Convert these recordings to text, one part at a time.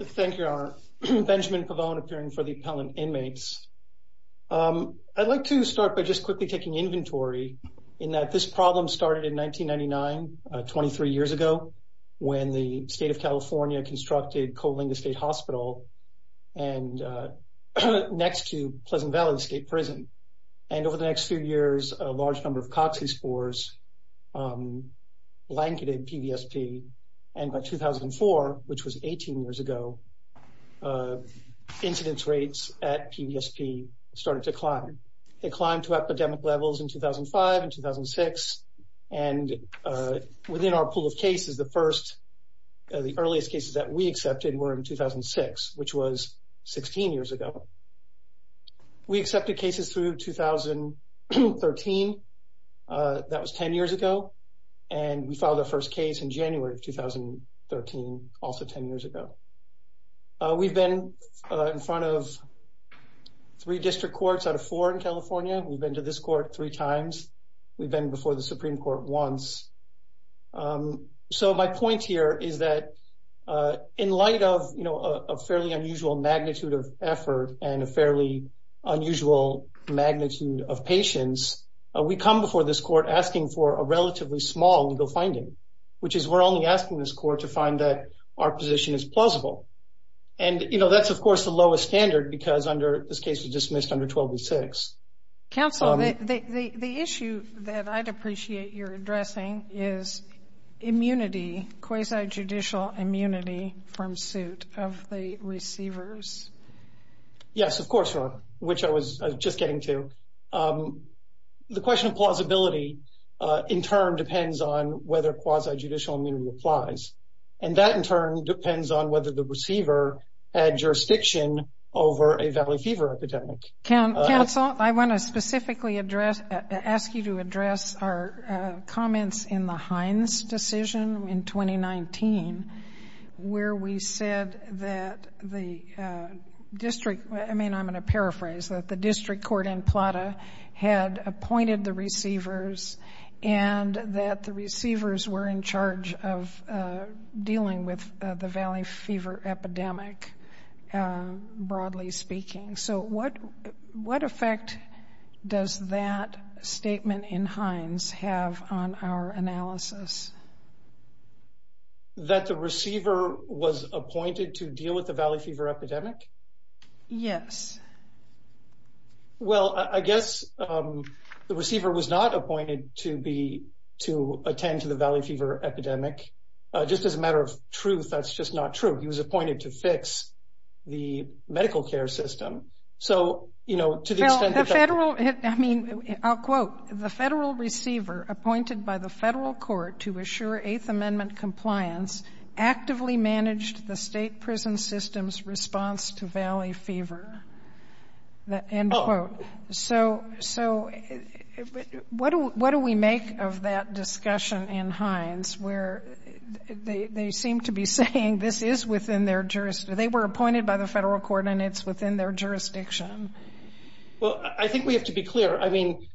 Thank you, Your Honor. Benjamin Pavone appearing for the appellant inmates. I'd like to start by just quickly taking inventory in that this problem started in 1999, 23 years ago, when the state of California constructed Coalinga State Hospital next to Pleasant Valley State Prison. And over the next few years, a large number of coccy spores blanketed PVSP. And by 2004, which was 18 years ago, incidence rates at PVSP started to climb. They climbed to epidemic levels in 2005 and 2006. And within our pool of cases, the earliest cases that we accepted were in 2006, which was 16 years ago. We accepted cases through 2013. That was 10 years ago. And we filed our first case in January of 2013, also 10 years ago. We've been in front of three district courts out of four in California. We've been to this court three times. We've been before the Supreme Court once. So my point here is that in light of, you know, a fairly unusual magnitude of effort and a fairly unusual magnitude of patience, we come before this court asking for a relatively small legal finding, which is we're only asking this court to find that our position is plausible. And, you know, that's, of course, the lowest standard because under this case was dismissed under 1286. Counsel, the issue that I'd appreciate your addressing is immunity, quasi-judicial immunity from suit of the receivers. Yes, of course, which I was just getting to. The question of plausibility, in turn, depends on whether quasi-judicial immunity applies. And that, in turn, depends on whether the receiver had jurisdiction over a valley fever epidemic. Counsel, I want to specifically address, ask you to address our comments in the Hines decision in 2019, where we said that the district, I mean, I'm going to paraphrase, that the district court in Plata had appointed the receivers and that the receivers were in charge of dealing with the valley fever epidemic, broadly speaking. So what effect does that statement in Hines have on our analysis? That the receiver was appointed to deal with the valley fever epidemic? Yes. Well, I guess the receiver was not appointed to attend to the valley fever epidemic. Just as a matter of truth, that's just not true. He was appointed to fix the medical care system. So, you know, to the extent that... Phil, the federal, I mean, I'll quote, the federal receiver appointed by the federal court to assure Eighth Amendment compliance actively managed the state prison system's response to valley fever. Oh. End quote. So what do we make of that discussion in Hines, where they seem to be saying this is within their jurisdiction. They were appointed by the federal court and it's within their jurisdiction. Well, I think we have to be clear. I mean,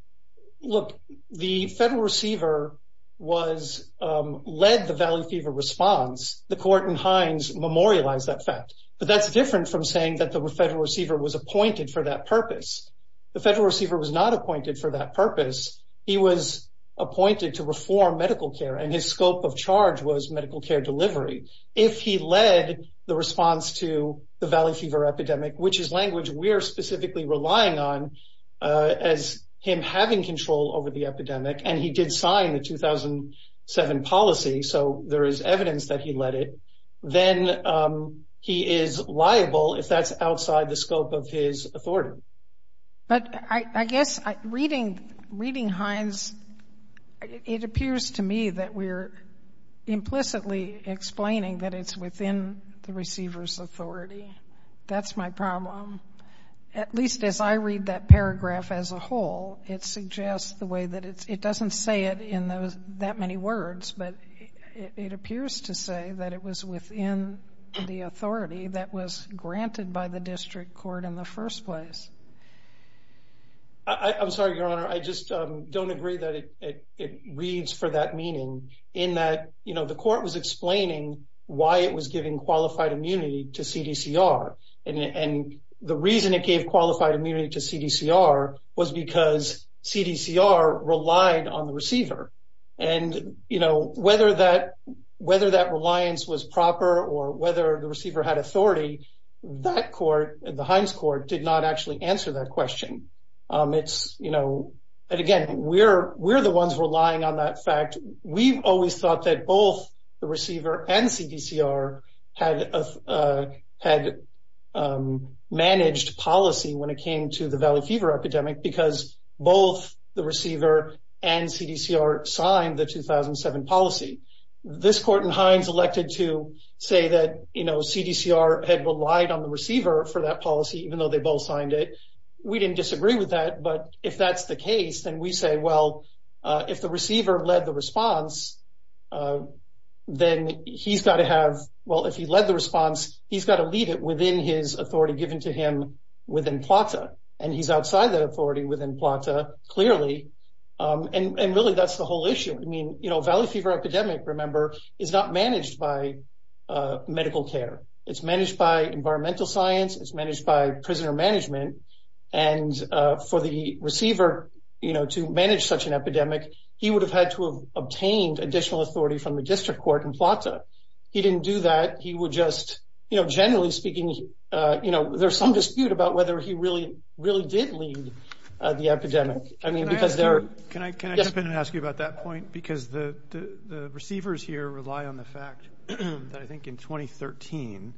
look, the federal receiver was, led the valley fever response. The court in Hines memorialized that fact. But that's different from saying that the federal receiver was appointed for that purpose. The federal receiver was not appointed for that purpose. He was appointed to reform medical care and his scope of charge was medical care delivery. If he led the response to the valley fever epidemic, which is language we're specifically relying on as him having control over the epidemic, and he did sign the 2007 policy, so there is evidence that he led it, then he is liable if that's outside the scope of his authority. But I guess reading Hines, it appears to me that we're implicitly explaining that it's within the receiver's authority. That's my problem. At least as I read that paragraph as a whole, it suggests the way that it doesn't say it in those that many words, but it appears to say that it was within the authority that was granted by the district court in the first place. I'm sorry, Your Honor. I just don't agree that it reads for that meaning in that, you know, the court was explaining why it was giving qualified immunity to CDCR. And the reason it gave qualified immunity to CDCR was because CDCR relied on the receiver. Whether that reliance was proper or whether the receiver had authority, that court, the Hines court, did not actually answer that question. Again, we're the ones relying on that fact. We've always thought that both the receiver and CDCR had managed policy when it came to the Valley Fever epidemic because both the receiver and CDCR signed the 2007 policy. This court in Hines elected to say that, you know, CDCR had relied on the receiver for that policy, even though they both signed it. We didn't disagree with that. But if that's the case, then we say, well, if the receiver led the response, then he's got to have, well, if he led the response, he's got to lead it within his authority given to him within PLATA. And he's outside that authority within PLATA, clearly. And really, that's the whole issue. I mean, you know, Valley Fever epidemic, remember, is not managed by medical care. It's managed by environmental science. It's managed by prisoner management. And for the receiver, you know, to manage such an epidemic, he would have had to have obtained additional authority from the district court in PLATA. He didn't do that. He would just, you know, generally speaking, you know, there's some dispute about whether he really, really did lead the epidemic. I mean, because there are... Can I jump in and ask you about that point? Because the receivers here rely on the fact that I think in 2013,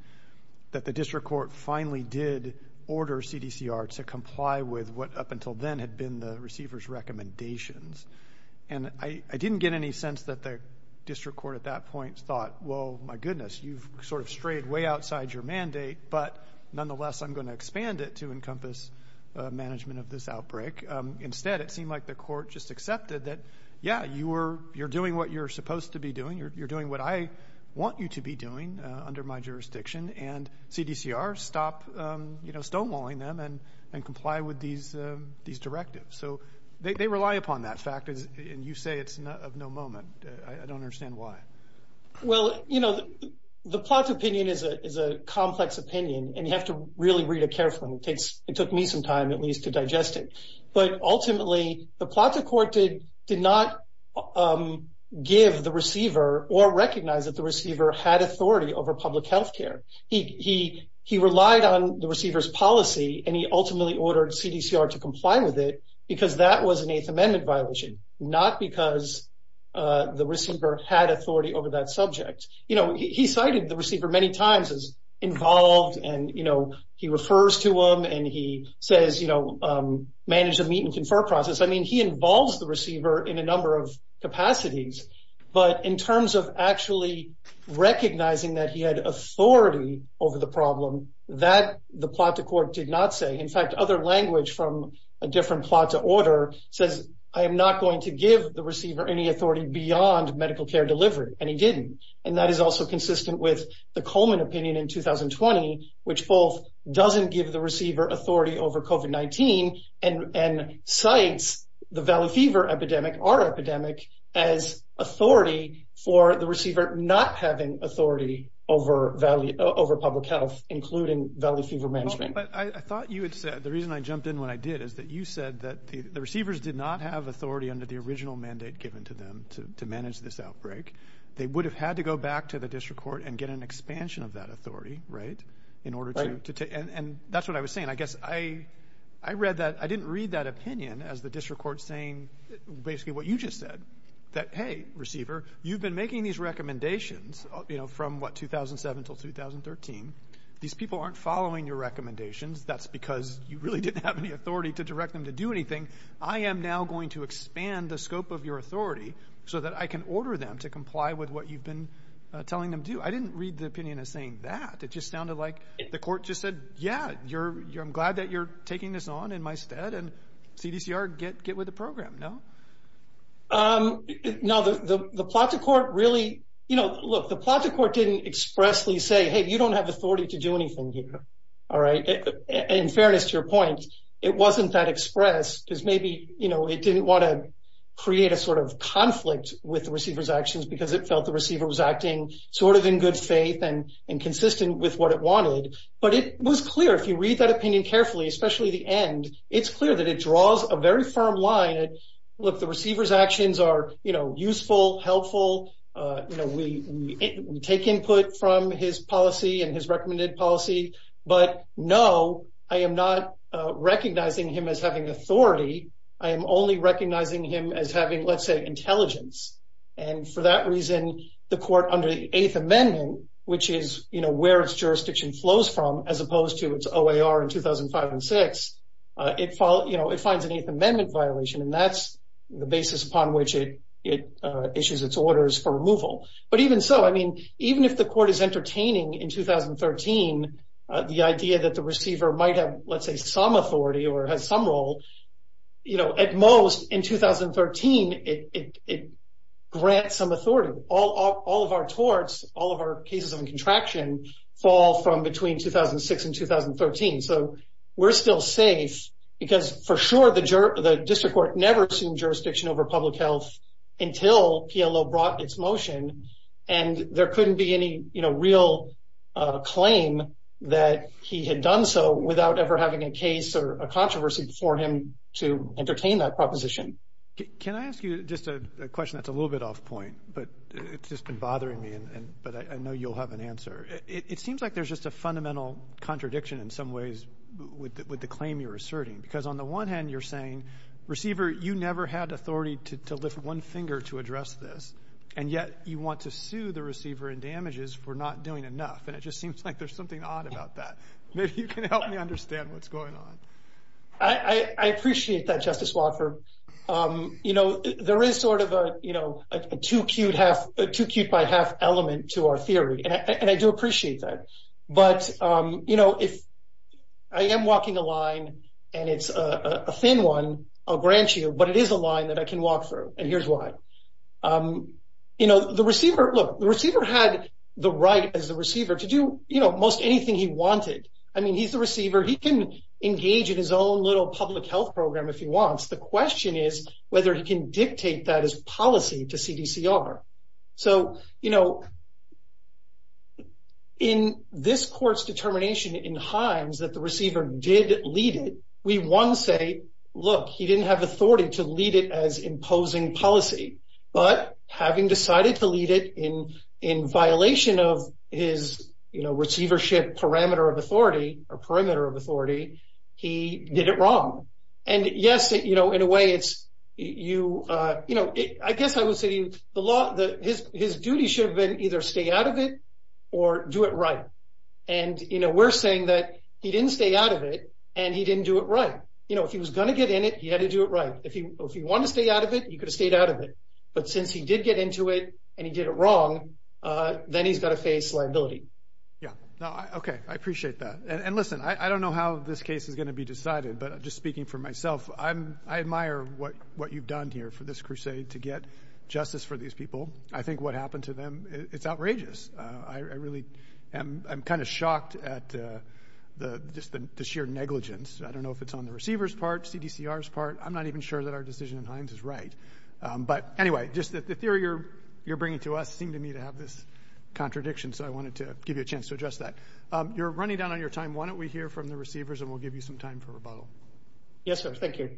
that the district court finally did order CDCR to comply with what up until then had been the receiver's recommendations. And I didn't get any sense that the district court at that point thought, well, my goodness, you've sort of strayed way outside your mandate. But nonetheless, I'm going to expand it to encompass management of this outbreak. Instead, it seemed like the court just accepted that, yeah, you're doing what you're supposed to be doing. You're doing what I want you to be doing under my jurisdiction. And CDCR stopped, you know, stonewalling them and comply with these directives. So they rely upon that fact, and you say it's of no moment. I don't understand why. Well, you know, the PLATA opinion is a complex opinion, and you have to really read it carefully. It took me some time, at least, to digest it. But ultimately, the PLATA court did not give the receiver or recognize that the receiver had authority over public health care. He relied on the receiver's policy, and he ultimately ordered CDCR to comply with it, because that was an Eighth Amendment violation, not because the receiver had authority over that subject. You know, he cited the receiver many times as involved, and, you know, he refers to him, and he says, you know, manage the meet and confer process. I mean, he involves the receiver in a number of capacities. But in terms of actually recognizing that he had authority over the problem, that the PLATA court did not say. In fact, other language from a different PLATA order says, I am not going to give the receiver any authority beyond medical care delivery, and he didn't. And that is also consistent with the Coleman opinion in 2020, which both doesn't give the receiver authority over COVID-19 and cites the Valley Fever epidemic, our epidemic, as authority for the receiver not having authority over public health, including Valley Fever management. But I thought you had said, the reason I jumped in when I did, is that you said that the receivers did not have authority under the original mandate given to them to manage this outbreak. They would have had to go back to the district court and get an expansion of that authority, right, in order to take, and that's what I was saying. I guess I read that, I didn't read that opinion as the district court saying basically what you just said, that, hey, receiver, you've been making these recommendations, you know, from what, 2007 until 2013. These people aren't following your recommendations. That's because you really didn't have any authority to direct them to do anything. I am now going to expand the scope of your authority so that I can order them to comply with what you've been telling them to do. I didn't read the opinion as saying that. It just sounded like the court just said, yeah, I'm glad that you're taking this on in my stead, and CDCR, get with the program, no? No, the plot to court really, you know, look, the plot to court didn't expressly say, hey, you don't have authority to do anything here, all right? In fairness to your point, it wasn't that expressed, because maybe, you know, it didn't want to create a sort of conflict with the receiver's actions, because it felt the and consistent with what it wanted. But it was clear, if you read that opinion carefully, especially the end, it's clear that it draws a very firm line at, look, the receiver's actions are, you know, useful, helpful, you know, we take input from his policy and his recommended policy, but no, I am not recognizing him as having authority. I am only recognizing him as having, let's say, intelligence. And for that reason, the court under the Eighth Amendment, which is, you know, where its jurisdiction flows from, as opposed to its OAR in 2005 and 2006, it, you know, it finds an Eighth Amendment violation, and that's the basis upon which it issues its orders for removal. But even so, I mean, even if the court is entertaining in 2013, the idea that the receiver might have, let's say, some authority or has some role, you know, at most in 2013, it grants some authority. All of our torts, all of our cases of contraction fall from between 2006 and 2013. So we're still safe, because for sure the district court never assumed jurisdiction over public health until PLO brought its motion, and there couldn't be any, you know, real claim that he had done so without ever having a case or a controversy before him to entertain that proposition. Can I ask you just a question that's a little bit off point, but it's just been bothering me, and, but I know you'll have an answer. It seems like there's just a fundamental contradiction in some ways with the claim you're asserting, because on the one hand, you're saying, receiver, you never had authority to lift one finger to address this, and yet you want to sue the receiver in damages for not doing enough, and it just seems like there's something odd about that. Maybe you can help me understand what's going on. I appreciate that, Justice Watford. You know, there is sort of a, you know, a two-cute by half element to our theory, and I do appreciate that, but, you know, if I am walking a line, and it's a thin one, I'll grant you, but it is a line that I can walk through, and here's why. You know, the receiver, look, the receiver had the right as the receiver to do, you know, most anything he wanted. I mean, he's the receiver. He can engage in his own little public health program if he wants. The question is whether he can dictate that as policy to CDCR. So, you know, in this court's determination in Hines that the receiver did lead it, we, one, say, look, he didn't have authority to lead it as imposing policy, but having decided to lead it in violation of his, you know, receivership parameter of authority, or perimeter of authority, he did it wrong. And, yes, you know, in a way, it's, you know, I guess I would say the law, his duty should have been either stay out of it or do it right, and, you know, we're saying that he didn't stay out of it, and he didn't do it right. You know, if he was going to get in it, he had to do it right. If he wanted to stay out of it, he could have stayed out of it, but since he did get into it, and he did it wrong, then he's got to face liability. Yeah. No, okay. I appreciate that. And listen, I don't know how this case is going to be decided, but just speaking for myself, I admire what you've done here for this crusade to get justice for these people. I think what happened to them, it's outrageous. I really am kind of shocked at just the sheer negligence. I don't know if it's on the receiver's part, CDCR's part, I'm not even sure that our decision in Hines is right. But anyway, just the theory you're bringing to us seemed to me to have this contradiction, so I wanted to give you a chance to address that. You're running down on your time. Why don't we hear from the receivers, and we'll give you some time for rebuttal. Yes, sir. Thank you.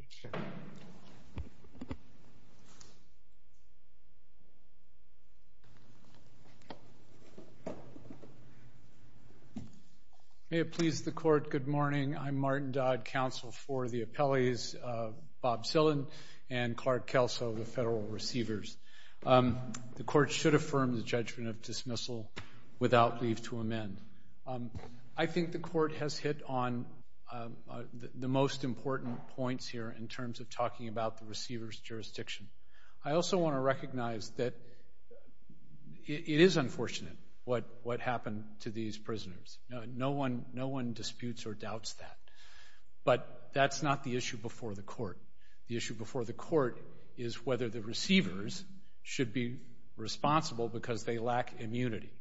May it please the court, good morning. I'm Martin Dodd, counsel for the appellees, Bob Zillin, and Clark Kelso, the federal receivers. The court should affirm the judgment of dismissal without leave to amend. I think the court has hit on the most important points here, in terms of talking about the receiver's jurisdiction. I also want to recognize that it is unfortunate what happened to these prisoners. No one disputes or doubts that. But that's not the issue before the court. The issue before the court is whether the receivers should be responsible because they lack immunity.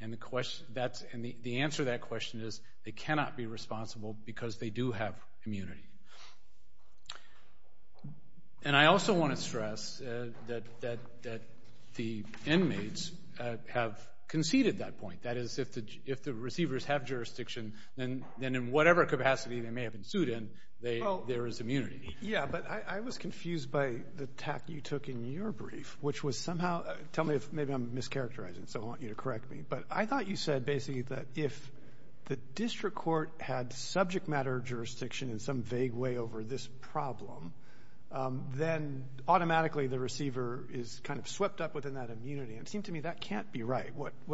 And the answer to that question is, they cannot be responsible because they do have immunity. And I also want to stress that the inmates have conceded that point. That is, if the receivers have jurisdiction, then in whatever capacity they may have ensued in, there is immunity. Yeah, but I was confused by the tact you took in your brief, which was somehow, tell me if maybe I'm mischaracterizing, so I want you to correct me. But I thought you said that if the district court had subject matter jurisdiction in some vague way over this problem, then automatically the receiver is kind of swept up within that immunity. And it seemed to me that can't be right.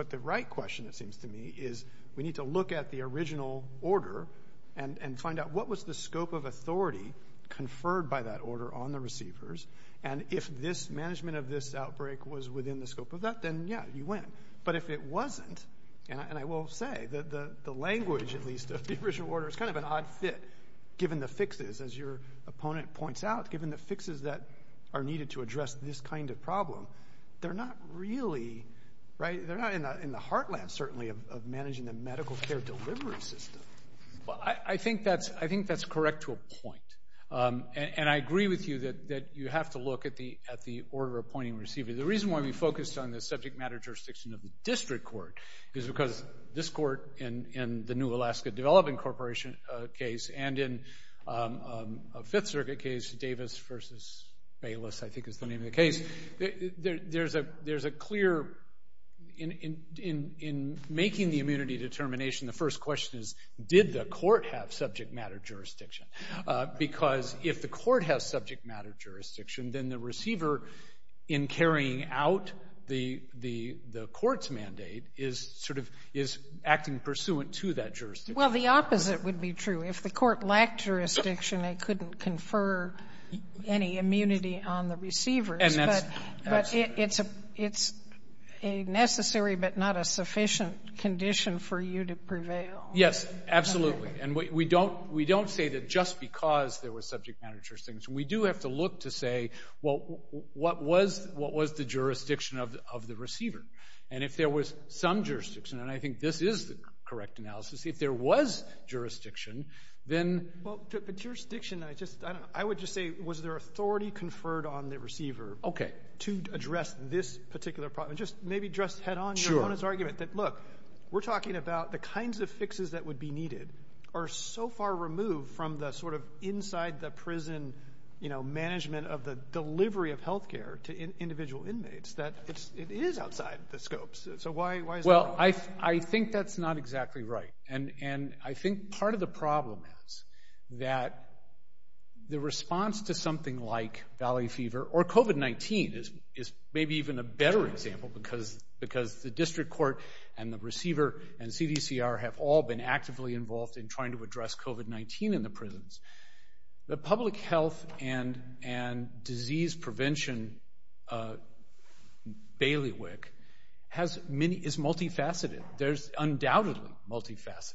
The right question, it seems to me, is we need to look at the original order and find out what was the scope of authority conferred by that order on the receivers. And if this management of this outbreak was within the scope of that, then yeah, you win. But if it wasn't, and I will say that the language, at least of the original order, is kind of an odd fit, given the fixes, as your opponent points out, given the fixes that are needed to address this kind of problem. They're not really, right, they're not in the heartland, certainly, of managing the medical care delivery system. Well, I think that's correct to a point. And I agree with you that you have to look at the order appointing receiver. The reason why we focused on the subject matter jurisdiction of the district court is because this court, in the New Alaska Development Corporation case, and in a Fifth Circuit case, Davis v. Bayless, I think is the name of the case. There's a clear, in making the immunity determination, the first question is, did the court have subject matter jurisdiction? Because if the court has subject matter jurisdiction, then the receiver, in carrying out the court's mandate, is acting pursuant to that jurisdiction. Well, the opposite would be true. If the court lacked jurisdiction, they couldn't confer any immunity on the receivers. But it's a necessary but not a sufficient condition for you to prevail. Yes, absolutely. And we don't say that just because there was subject matter jurisdiction. We do have to look to say, well, what was the jurisdiction of the receiver? And if there was some jurisdiction, and I think this is the correct analysis, if there was jurisdiction, then... Well, but jurisdiction, I just, I don't know. I would just say, was there authority conferred on the receiver to address this particular problem? And just, maybe just head on your argument that, look, we're talking about the kinds of fixes that would be needed are so far removed from the sort of outside the prison, you know, management of the delivery of health care to individual inmates that it is outside the scopes. So why is that? Well, I think that's not exactly right. And I think part of the problem is that the response to something like Valley Fever or COVID-19 is maybe even a better example because the district court and the receiver and CDCR have all been actively involved in trying to address COVID-19 in the prisons. The public health and disease prevention bailiwick has many, is multifaceted. There's undoubtedly multifaceted.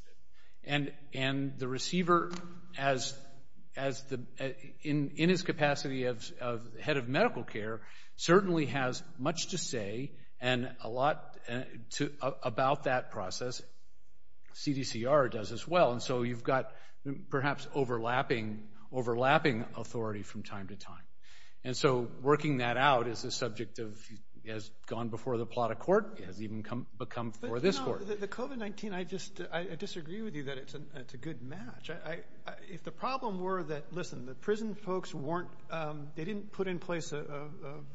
And the receiver has, in his capacity of head of medical care, certainly has much to say and a lot about that process. CDCR does as well. And so you've got perhaps overlapping authority from time to time. And so working that out is the subject of, has gone before the plot of court, has even become for this court. The COVID-19, I just, I disagree with you that it's a good match. If the problem were that, listen, the prison folks weren't, they didn't put in place a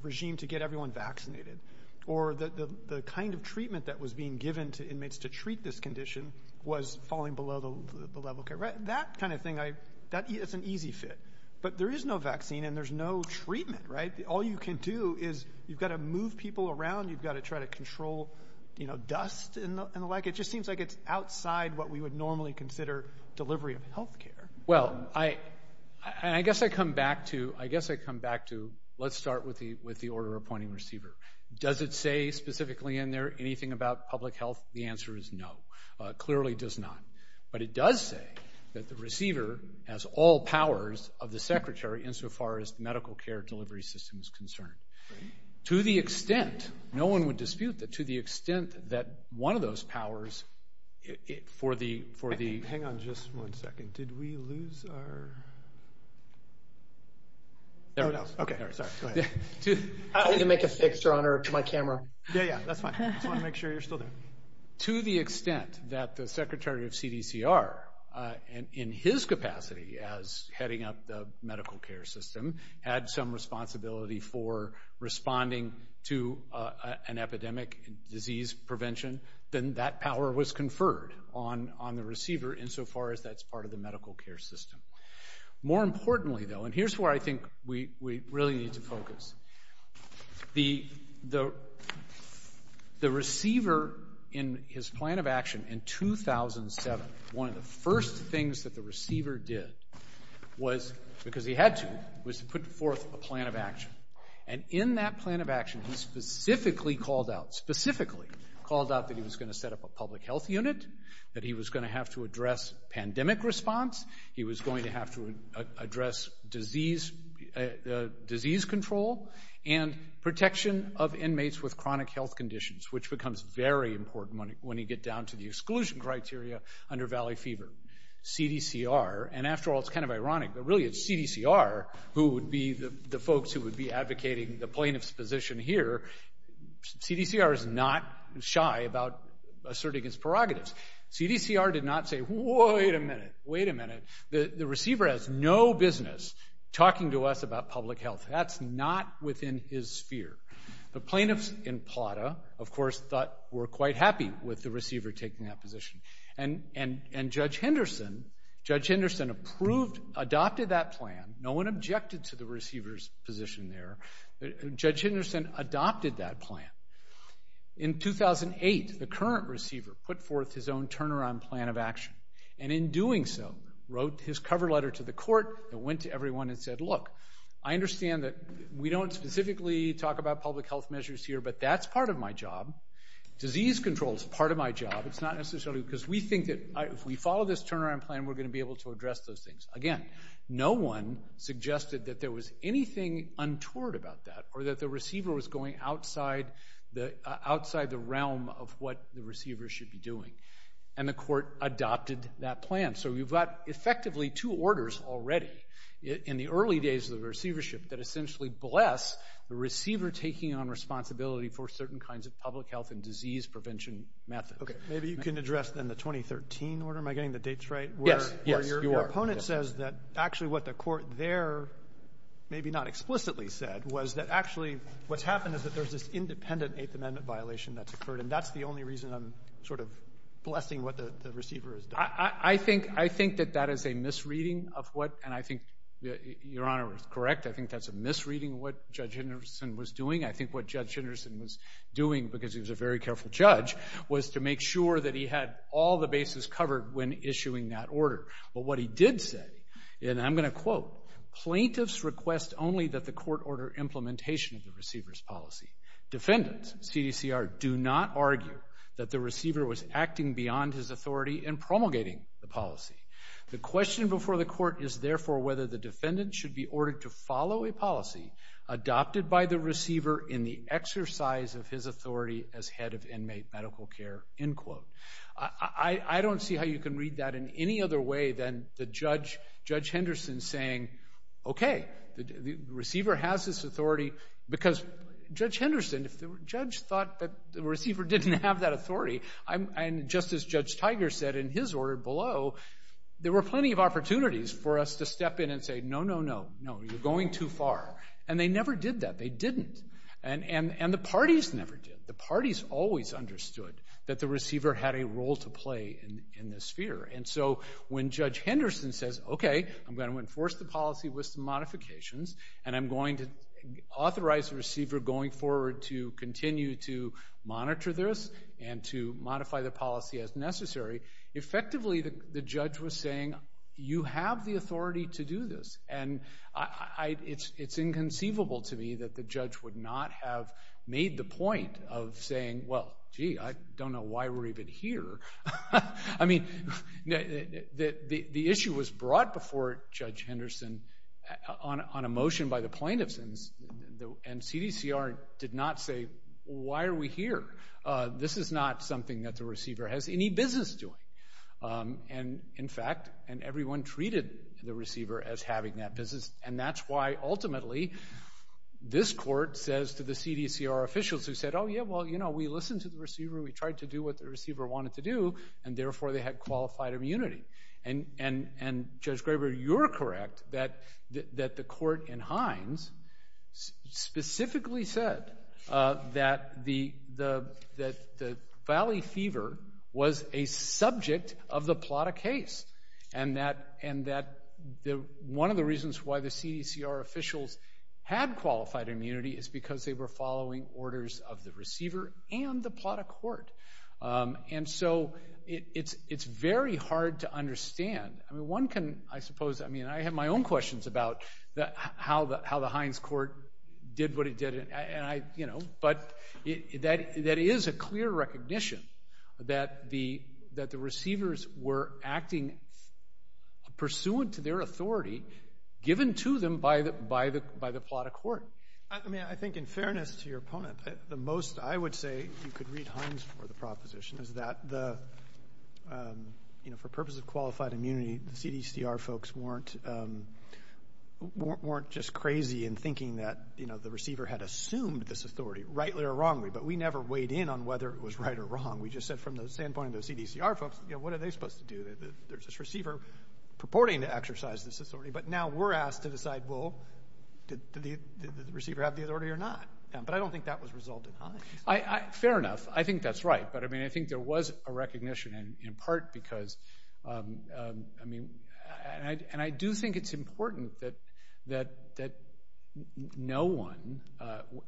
regime to get everyone vaccinated or the kind of treatment that was being given to inmates to treat this condition was falling below the level. That kind of thing, I, that is an easy fit, but there is no vaccine and there's no treatment, right? All you can do is you've got to move people around. You've got to try to control, you know, dust and the like. It just seems like it's outside what we would normally consider delivery of healthcare. Well, I, and I guess I come back to, I guess I come back to, let's start with the, with the order appointing receiver. Does it say specifically in there, anything about public health? The answer is no, clearly does not. But it does say that the receiver has all powers of the secretary insofar as medical care delivery system is concerned. To the extent, no one would dispute that to the extent that one of those powers for the, for the, hang on just one second. Did we lose our, there we go. Okay. Sorry. Go ahead. I need to make a fixture on my camera. Yeah, yeah. That's fine. I just want to make sure you're still there. To the extent that the secretary of CDCR, and in his capacity as heading up the medical care system, had some responsibility for responding to an epidemic and disease prevention, then that power was conferred on the receiver insofar as that's part of the medical care system. More importantly though, and here's where I think we really need to focus. The receiver in his plan of action in 2007, one of the first things that the receiver did was, because he had to, was to put forth a plan of action. And in that plan of action, he specifically called out, specifically called out that he was going to set up a public health unit, that he was going to have to address pandemic response. He was going to have to address disease, disease control and protection of inmates with chronic health conditions, which becomes very important when he, when he get down to the exclusion criteria under Valley Fever. CDCR, and after all, it's kind of ironic, but really it's CDCR who would be the folks who position here. CDCR is not shy about asserting his prerogatives. CDCR did not say, wait a minute, wait a minute. The receiver has no business talking to us about public health. That's not within his sphere. The plaintiffs in PLATA, of course, thought were quite happy with the receiver taking that position. And, and, and Judge Henderson, Judge Henderson approved, adopted that plan. No one objected to the receiver's position there. Judge Henderson adopted that plan. In 2008, the current receiver put forth his own turnaround plan of action. And in doing so, wrote his cover letter to the court and went to everyone and said, look, I understand that we don't specifically talk about public health measures here, but that's part of my job. Disease control is part of my job. It's not necessarily because we think that if we follow this turnaround plan, we're going to be able to address those things. Again, no one suggested that there was anything untoward about that or that the receiver was going outside the outside the realm of what the receiver should be doing. And the court adopted that plan. So we've got effectively two orders already in the early days of the receivership that essentially bless the receiver taking on responsibility for certain kinds of public health and disease prevention methods. Okay. Maybe you can address then the 2013 order. Am I getting the dates right? Yes. Your opponent says that actually what the court there maybe not explicitly said was that actually what's happened is that there's this independent eighth amendment violation that's occurred. And that's the only reason I'm sort of blessing what the receiver has done. I think, I think that that is a misreading of what, and I think your honor is correct. I think that's a misreading of what Judge Henderson was doing. I think what Judge Henderson was doing because he was a very careful judge was to make sure that he had all the bases covered when issuing that order. But what he did say, and I'm going to quote, plaintiffs request only that the court order implementation of the receiver's policy. Defendants, CDCR, do not argue that the receiver was acting beyond his authority and promulgating the policy. The question before the court is therefore whether the defendant should be ordered to follow a policy adopted by the receiver in the as head of inmate medical care, end quote. I don't see how you can read that in any other way than the judge, Judge Henderson, saying, okay, the receiver has this authority because Judge Henderson, if the judge thought that the receiver didn't have that authority, and just as Judge Tiger said in his order below, there were plenty of opportunities for us to step in and say, no, no, no, no, you're going too far. And they never did that. They didn't. And the parties never did. The parties always understood that the receiver had a role to play in this sphere. And so when Judge Henderson says, okay, I'm going to enforce the policy with some modifications, and I'm going to authorize the receiver going forward to continue to monitor this and to modify the policy as necessary, effectively, the judge was saying, you have the authority to do this. And it's inconceivable to me that the judge would not have made the point of saying, well, gee, I don't know why we're even here. I mean, the issue was brought before Judge Henderson on a motion by the plaintiffs, and CDCR did not say, why are we here? This is not something that the receiver has any business doing. And in fact, and everyone treated the receiver as having that business. And that's why ultimately, this court says to the CDCR officials who said, oh, yeah, well, you know, we listened to the receiver. We tried to do what the receiver wanted to do. And therefore, they had qualified immunity. And Judge Graber, you're correct that the court in Hines specifically said that the valley fever was a subject of the Plata case. And that one of the reasons why the CDCR officials had qualified immunity is because they were following orders of the receiver and the Plata court. And so it's very hard to understand. I mean, one can, I suppose, I mean, I have my own questions about how the Hines court did what it did. And I, you know, but that is a clear recognition that the receivers were acting pursuant to their authority, given to them by the Plata court. I mean, I think in fairness to your opponent, the most I would say you could read Hines for the proposition is that the, you know, for purposes of qualified immunity, the CDCR folks weren't just crazy in thinking that, you know, the receiver had assumed this right or wrong. We just said from the standpoint of the CDCR folks, you know, what are they supposed to do? There's this receiver purporting to exercise this authority, but now we're asked to decide, well, did the receiver have the authority or not? But I don't think that was resulted in Hines. Fair enough. I think that's right. But I mean, I think there was a recognition in part because, I mean, and I do think it's important that no one,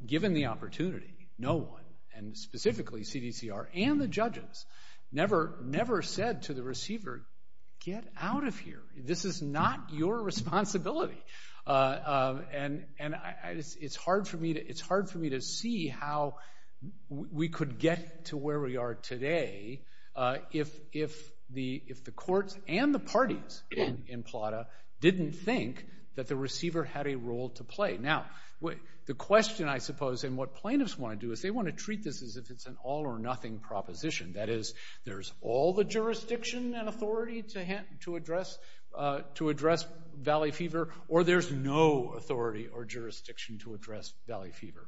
given the opportunity, no one, and specifically CDCR and the judges never said to the receiver, get out of here. This is not your responsibility. And it's hard for me to see how we could get to where we are today if the courts and the parties in Plata didn't think that the receiver had a role to play. Now, the question, I suppose, and what plaintiffs want to do is they want to treat this as if it's an all or nothing proposition. That is, there's all the jurisdiction and authority to address valley fever or there's no authority or jurisdiction to address valley fever.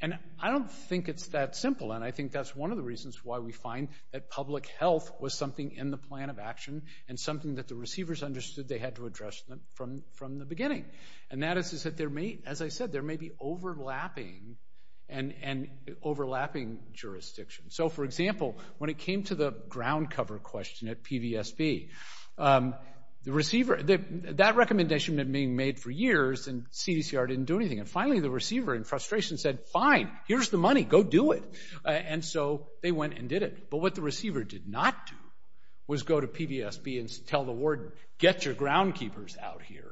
And I don't think it's that simple. And I think that's one of the reasons why we find that public health was something in the plan of action and something that the receivers understood they had to address from the beginning. And that is, as I said, there may be overlapping jurisdictions. So, for example, when it came to the ground cover question at PVSB, that recommendation had been made for years and CDCR didn't do anything. And finally, the receiver in frustration said, fine, here's the money, go do it. And so they went and did it. But what the receiver did not do was go to PVSB and tell the ward, get your groundkeepers out here.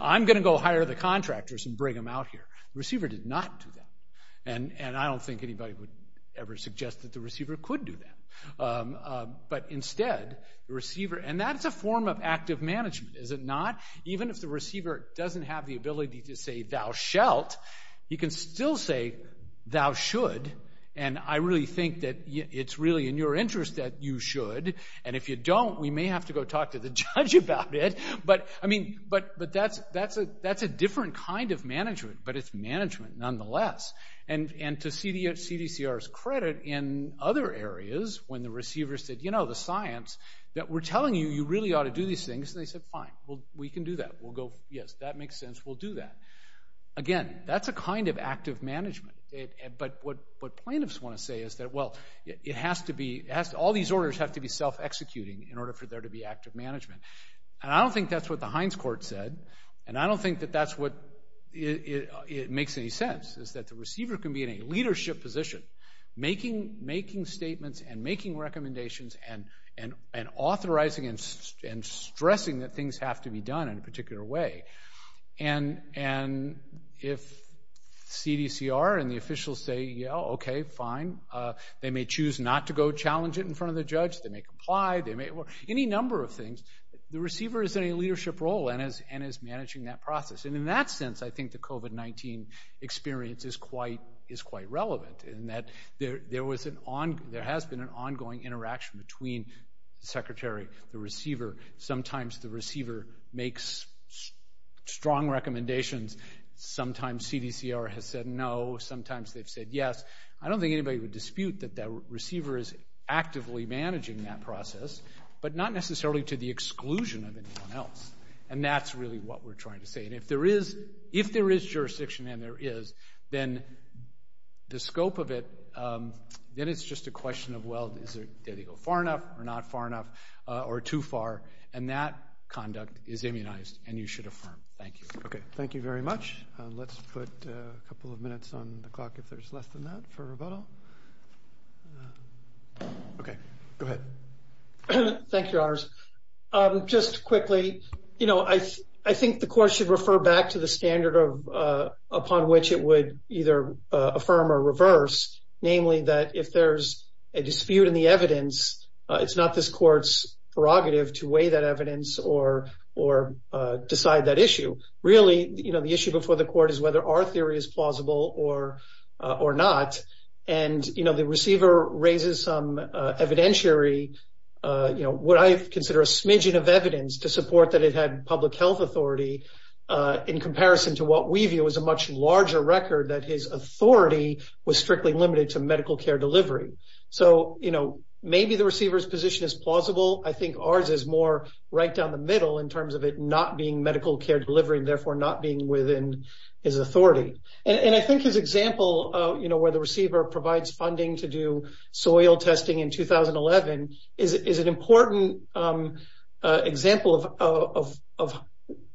I'm going to go hire the contractors and bring them out here. The receiver did not do that. And I don't think anybody would ever suggest that the receiver could do that. But instead, the receiver, and that's a form of active management, is it not? Even if the receiver doesn't have the ability to say, thou shalt, he can still say, thou should. And I really think that it's really in your interest that you should. And if you don't, we may have to go talk to the judge about it. But that's a different kind of management, but it's management nonetheless. And to CDCR's credit, in other areas, when the receivers said, you know, the science, that we're telling you, you really ought to do these things. And they said, fine, we can do that. We'll go, yes, that makes sense. We'll do that. Again, that's a kind of active management. But what plaintiffs want to say is that, well, it has to be, all these orders have to be self-executing in order for there to be active management. And I don't think that's what the Hines Court said. And I don't think that that's what makes any sense, is that the receiver can be in a leadership position, making statements and making recommendations and authorizing and a particular way. And if CDCR and the officials say, yeah, okay, fine. They may choose not to go challenge it in front of the judge. They may comply. They may, any number of things. The receiver is in a leadership role and is managing that process. And in that sense, I think the COVID-19 experience is quite relevant in that there has been an ongoing interaction between the secretary, the receiver. Sometimes the receiver makes strong recommendations. Sometimes CDCR has said no. Sometimes they've said yes. I don't think anybody would dispute that the receiver is actively managing that process, but not necessarily to the exclusion of anyone else. And that's really what we're trying to say. And if there is jurisdiction, and there is, then the scope of it, then it's just a question of, well, did he go far enough or not far enough or too far? And that conduct is immunized and you should affirm. Thank you. Okay. Thank you very much. Let's put a couple of minutes on the clock if there's less than that for rebuttal. Okay. Go ahead. Thank you, Your Honors. Just quickly, I think the court should understand the standard upon which it would either affirm or reverse, namely that if there's a dispute in the evidence, it's not this court's prerogative to weigh that evidence or decide that issue. Really, the issue before the court is whether our theory is plausible or not. And the receiver raises some evidentiary, what I consider a smidgen of evidence to support that it had public health authority in comparison to what we view as a much larger record that his authority was strictly limited to medical care delivery. So, you know, maybe the receiver's position is plausible. I think ours is more right down the middle in terms of it not being medical care delivery, and therefore not being within his authority. And I think his example, you know, where the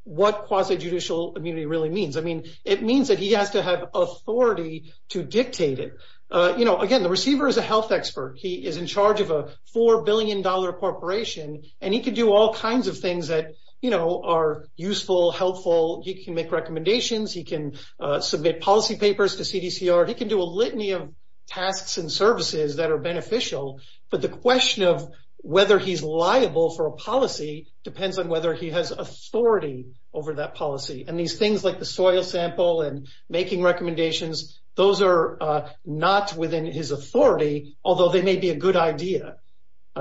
what quasi-judicial immunity really means. I mean, it means that he has to have authority to dictate it. You know, again, the receiver is a health expert. He is in charge of a $4 billion corporation, and he can do all kinds of things that, you know, are useful, helpful. He can make recommendations. He can submit policy papers to CDCR. He can do a litany of tasks and services that are beneficial. But the question of whether he's liable for a policy depends on whether he has authority over that policy. And these things like the soil sample and making recommendations, those are not within his authority, although they may be a good idea.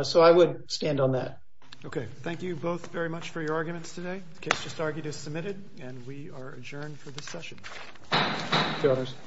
So I would stand on that. Okay. Thank you both very much for your arguments today. The case just argued is submitted, and we are adjourned for this session.